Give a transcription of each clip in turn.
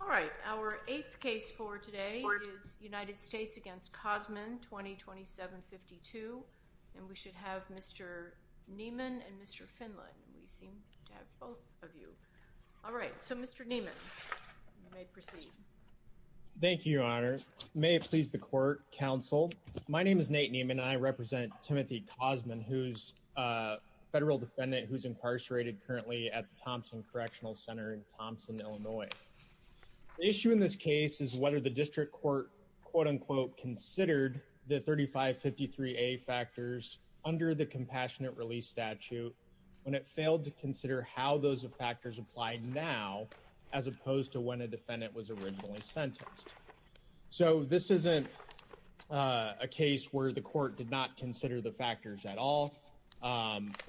All right, our eighth case for today is United States against Cosman 202752 and we should have mr. Niemann and mr. Finland. We seem to have both of you. All right, so mr. Niemann Thank You honors may it please the court counsel, my name is Nate Niemann I represent Timothy Cosman who's Federal defendant who's incarcerated currently at the Thompson Correctional Center in Thompson, Illinois The issue in this case is whether the district court quote-unquote considered the 3553 a factors under the compassionate release statute When it failed to consider how those of factors applied now as opposed to when a defendant was originally sentenced so this isn't a Case where the court did not consider the factors at all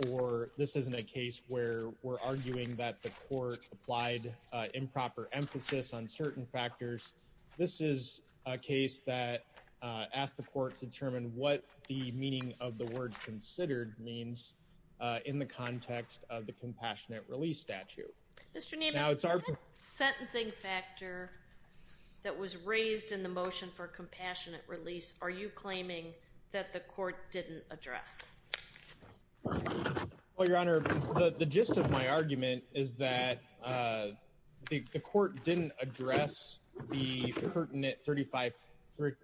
Or this isn't a case where we're arguing that the court applied Improper emphasis on certain factors. This is a case that Asked the court to determine what the meaning of the word considered means In the context of the compassionate release statute Sentencing factor that was raised in the motion for compassionate release. Are you claiming that the court didn't address? Well, your honor the gist of my argument is that The court didn't address the pertinent 35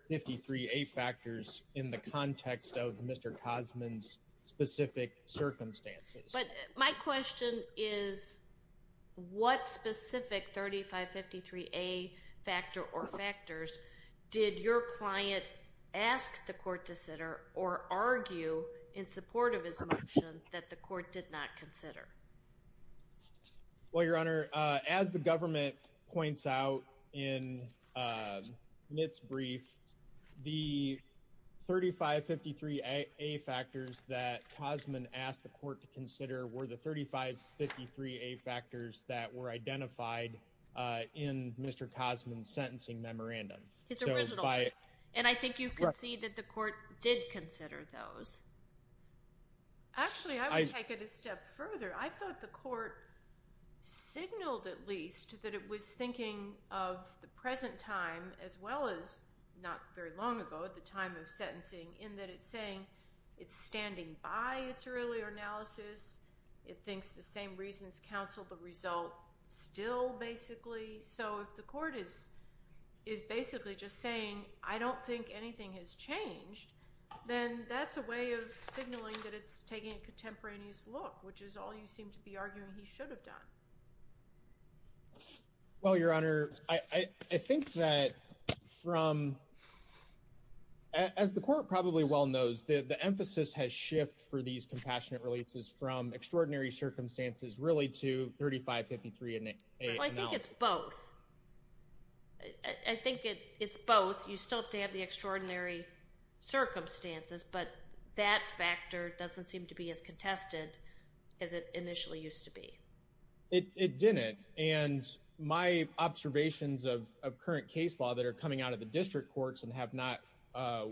53 a factors in the context of mr. Cosman's specific circumstances, but my question is What specific? 3553 a factor or factors did your client ask the court to center or Argue in support of his motion that the court did not consider Well, your honor as the government points out in Its brief the 3553 a factors that Cosman asked the court to consider were the 3553 a factors that were identified In mr. Cosman's sentencing memorandum. It's by and I think you can see that the court did consider those Actually, I take it a step further I thought the court signaled at least that it was thinking of the present time as well as Not very long ago at the time of sentencing in that it's saying it's standing by its earlier analysis It thinks the same reasons counseled the result still basically So if the court is is basically just saying I don't think anything has changed Then that's a way of signaling that it's taking a contemporaneous look which is all you seem to be arguing he should have done Well, your honor, I I think that from As the court probably well knows that the emphasis has shift for these compassionate releases from extraordinary circumstances really to 3553 and I think it's both I Circumstances, but that factor doesn't seem to be as contested as it initially used to be it didn't and my observations of current case law that are coming out of the district courts and have not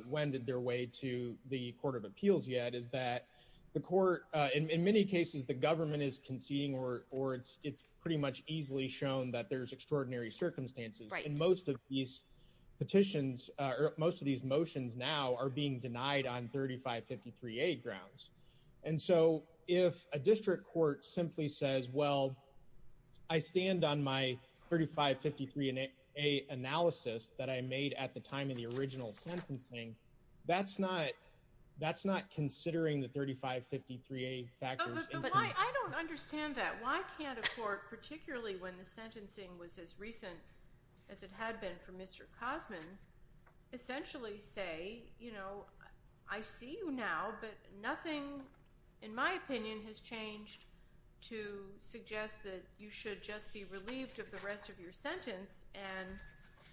Wended their way to the Court of Appeals yet Is that the court in many cases the government is conceding or or it's it's pretty much easily shown that there's extraordinary circumstances and most of these Petitions or most of these motions now are being denied on 3553 a grounds and so if a district court simply says well I stand on my 3553 and a Analysis that I made at the time of the original sentencing. That's not that's not considering the 3553 a Understand that why can't afford particularly when the sentencing was as recent as it had been for mr Cosman Essentially say, you know, I see you now, but nothing in my opinion has changed to suggest that you should just be relieved of the rest of your sentence and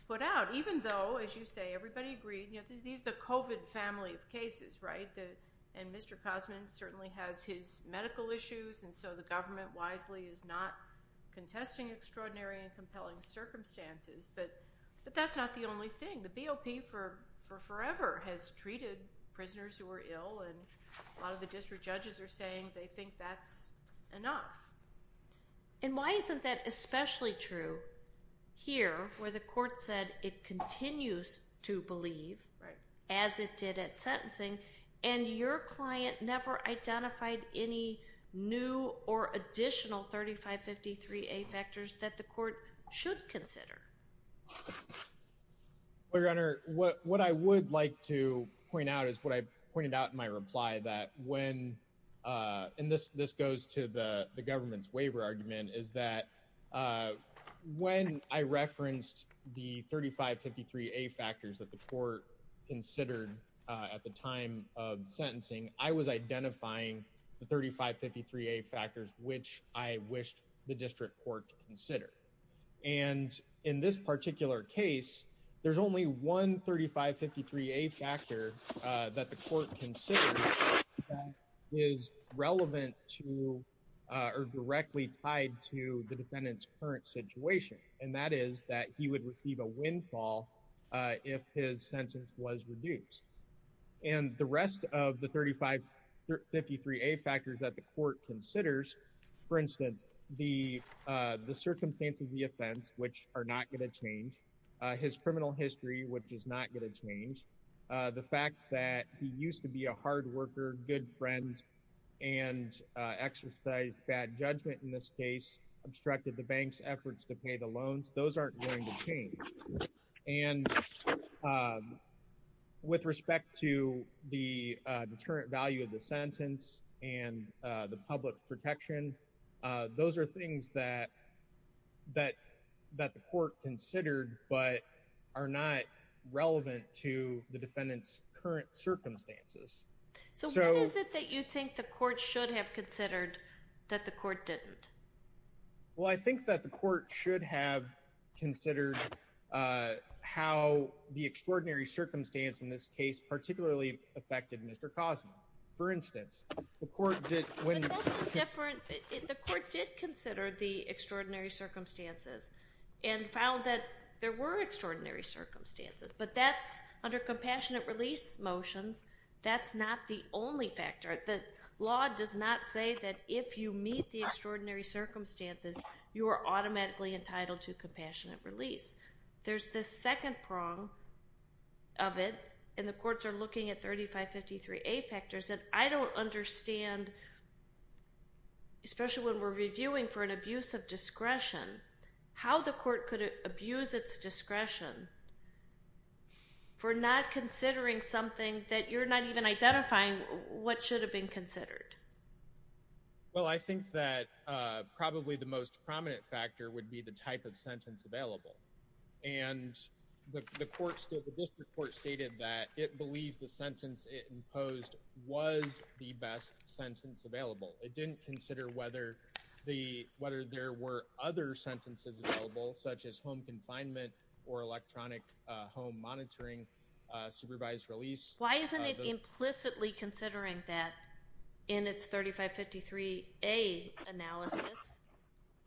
Put out even though as you say everybody agreed, you know, there's these the kovat family of cases, right? The and mr. Cosman certainly has his medical issues. And so the government wisely is not Contesting extraordinary and compelling Circumstances, but but that's not the only thing the BOP for for forever has treated Prisoners who were ill and a lot of the district judges are saying they think that's enough And why isn't that especially true? here where the court said it continues to believe right as it did at sentencing and your client never identified any New or additional 3553 a factors that the court should consider Well, your honor what what I would like to point out is what I pointed out in my reply that when in this this goes to the the government's waiver argument is that When I referenced the 3553 a factors that the court Considered at the time of sentencing I was identifying the 3553 a factors, which I wished the district court to consider and In this particular case, there's only one 3553 a factor that the court can say is relevant to Or directly tied to the defendant's current situation and that is that he would receive a windfall If his sentence was reduced and the rest of the 3553 a factors that the court considers for instance the The circumstance of the offense which are not going to change his criminal history, which is not going to change the fact that he used to be a hard worker good friend and Exercised bad judgment in this case obstructed the bank's efforts to pay the loans. Those aren't going to change and With respect to the deterrent value of the sentence and the public protection those are things that that that the court considered but are not Relevant to the defendants current circumstances So is it that you think the court should have considered that the court didn't? Well, I think that the court should have considered How the extraordinary circumstance in this case particularly affected mr. Cosmo for instance The court did consider the extraordinary circumstances and found that there were extraordinary circumstances But that's under compassionate release motions That's not the only factor that law does not say that if you meet the extraordinary circumstances You are automatically entitled to compassionate release there's the second prong of It and the courts are looking at 3553 a factors that I don't understand Especially when we're reviewing for an abuse of discretion how the court could abuse its discretion For not considering something that you're not even identifying what should have been considered well, I think that Probably the most prominent factor would be the type of sentence available and The courts to the district court stated that it believed the sentence it imposed was the best Sentence available. It didn't consider whether the whether there were other sentences available such as home confinement or electronic home monitoring Supervised release. Why isn't it implicitly considering that in its 3553 a analysis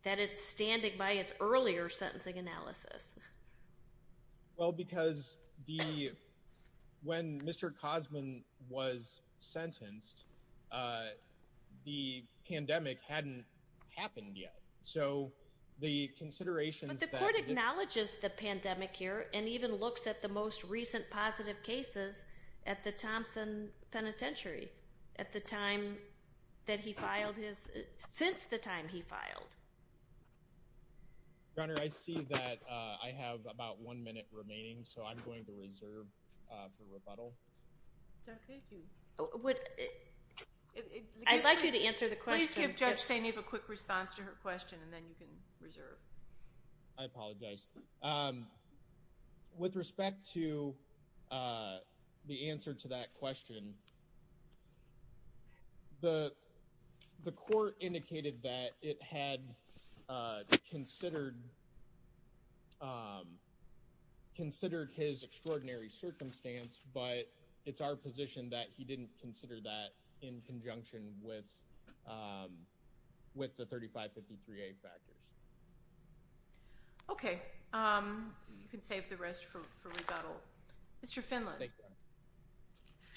that it's standing by its earlier sentencing analysis well, because the when mr. Cosman was sentenced the pandemic hadn't happened yet, so the Considerations the court acknowledges the pandemic here and even looks at the most recent positive cases at the Thompson Penitentiary at the time that he filed his since the time he filed I See that I have about one minute remaining so I'm going to reserve With respect to the answer to that question The The court indicated that it had Considered Considered his extraordinary circumstance, but it's our position that he didn't consider that in conjunction with With the 3553 a factors Okay Mr. Finland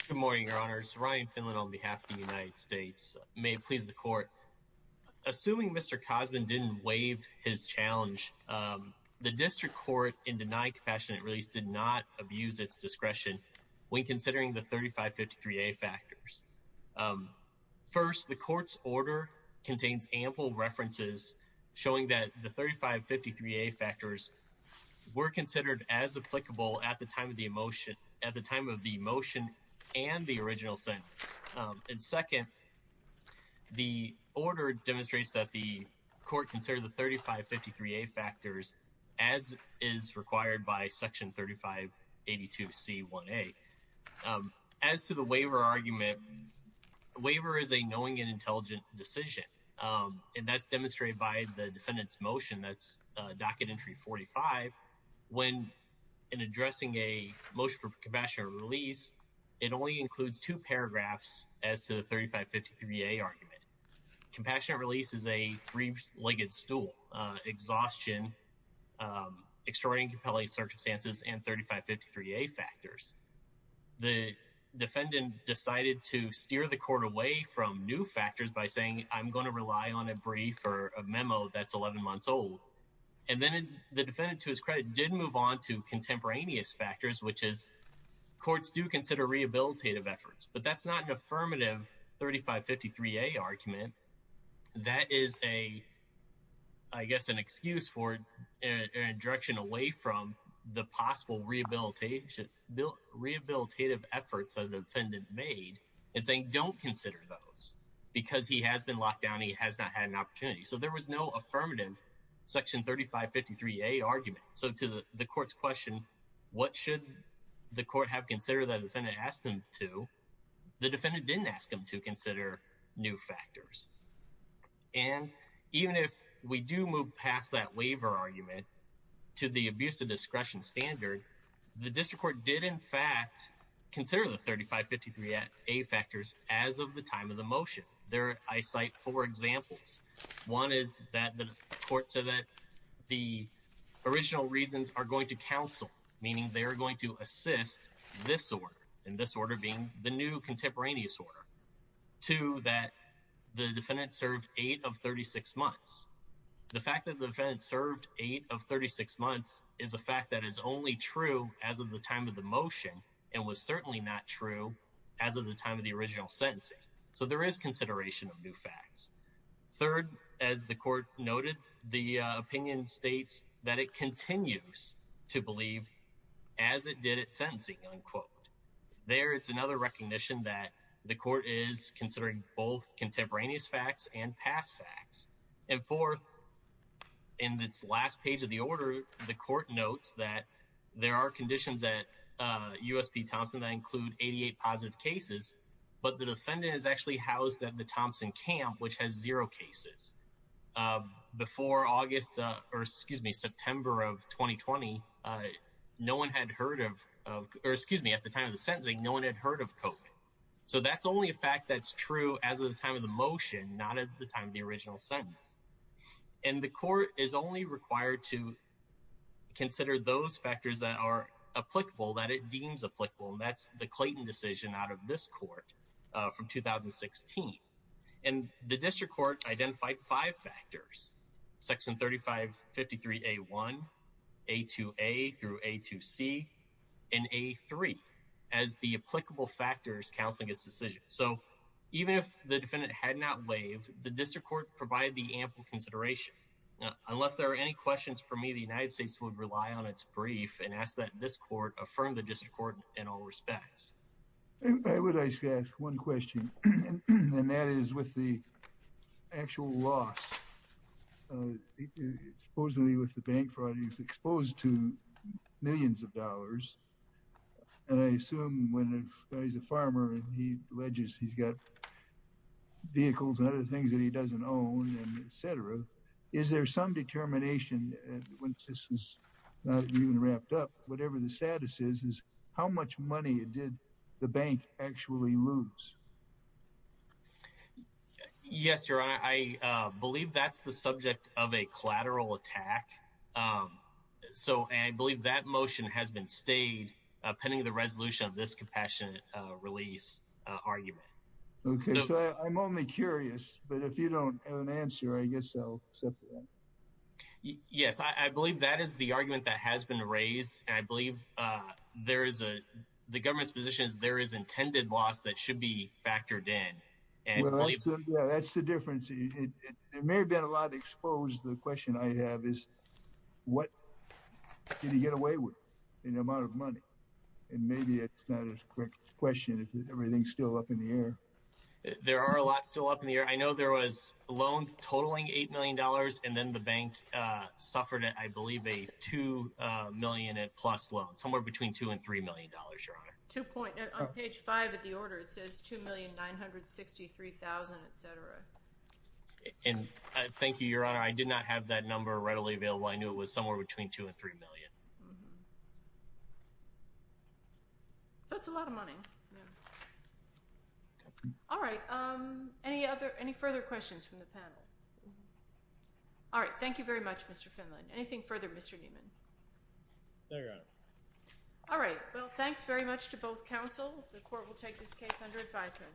Good morning, your honors Ryan Finland on behalf of the United States may it please the court Assuming mr. Cosman didn't waive his challenge The district court in denied compassionate release did not abuse its discretion when considering the 3553 a factors First the court's order contains ample references showing that the 3553 a factors Were considered as applicable at the time of the emotion at the time of the motion and the original sentence and second the order demonstrates that the court considered the 3553 a factors as Is required by section 35 82 C 1 a as to the waiver argument? Waiver is a knowing and intelligent decision and that's demonstrated by the defendants motion. That's docket entry 45 when in addressing a motion for compassionate release It only includes two paragraphs as to the 3553 a argument Compassionate release is a three-legged stool exhaustion extraordinary circumstances and 3553 a factors the Defendant decided to steer the court away from new factors by saying I'm going to rely on a brief or a memo That's 11 months old and then the defendant to his credit didn't move on to contemporaneous factors, which is Courts do consider rehabilitative efforts, but that's not an affirmative 3553 a argument that is a I guess an excuse for direction away from the possible rehabilitation bill Rehabilitative efforts of the defendant made and saying don't consider those because he has been locked down. He has not had an opportunity So there was no affirmative section 3553 a argument so to the court's question What should the court have considered that if any asked them to? the defendant didn't ask him to consider new factors and Even if we do move past that waiver argument to the abuse of discretion standard The district court did in fact Consider the 3553 at a factors as of the time of the motion there. I cite four examples one is that the court said that the Original reasons are going to counsel meaning they are going to assist this order in this order being the new contemporaneous order to that the defendant served eight of 36 months The fact that the defense served eight of 36 months is a fact that is only true as of the time of the motion And was certainly not true as of the time of the original sentencing. So there is consideration of new facts third as the court noted the opinion states that it continues to believe as It did it sentencing unquote there. It's another recognition that the court is considering both Contemporaneous facts and past facts and for in its last page of the order the court notes that there are conditions that USP Thompson that include 88 positive cases, but the defendant is actually housed at the Thompson camp, which has zero cases Before August or excuse me, September of 2020 No one had heard of Excuse me at the time of the sentencing. No one had heard of coke So that's only a fact that's true as of the time of the motion not at the time of the original sentence and the court is only required to Consider those factors that are applicable that it deems applicable. That's the Clayton decision out of this court from 2016 and the district court identified five factors section 35 53 a 1 a Through a to see in a three as the applicable factors counseling its decision So even if the defendant had not waived the district court provide the ample consideration Unless there are any questions for me the United States would rely on its brief and ask that this court affirmed the district court in all respects One question And that is with the actual loss Supposedly with the bank fraud he's exposed to millions of dollars And I assume when he's a farmer and he ledges he's got Vehicles and other things that he doesn't own and etc. Is there some determination? When this is not even wrapped up, whatever the status is is how much money it did the bank actually lose? Yes, your honor, I believe that's the subject of a collateral attack So I believe that motion has been stayed pending the resolution of this compassionate release Arguable. Okay. I'm only curious, but if you don't have an answer, I guess so Yes, I believe that is the argument that has been raised I believe There is a the government's position is there is intended loss that should be factored in and That's the difference. It may have been a lot exposed. The question I have is What? Did he get away with in the amount of money and maybe it's not a quick question. Everything's still up in the air There are a lot still up in the air. I know there was loans totaling eight million dollars and then the bank Suffered it I believe a two million plus loan somewhere between two and three million dollars your honor two point I'm page five at the order. It says two million nine hundred sixty three thousand, etc And thank you, your honor. I did not have that number readily available. I knew it was somewhere between two and three million That's a lot of money All right, um any other any further questions from the panel All right, thank you very much. Mr. Finley anything further. Mr. Newman All right, well, thanks very much to both counsel the court will take this case under advisement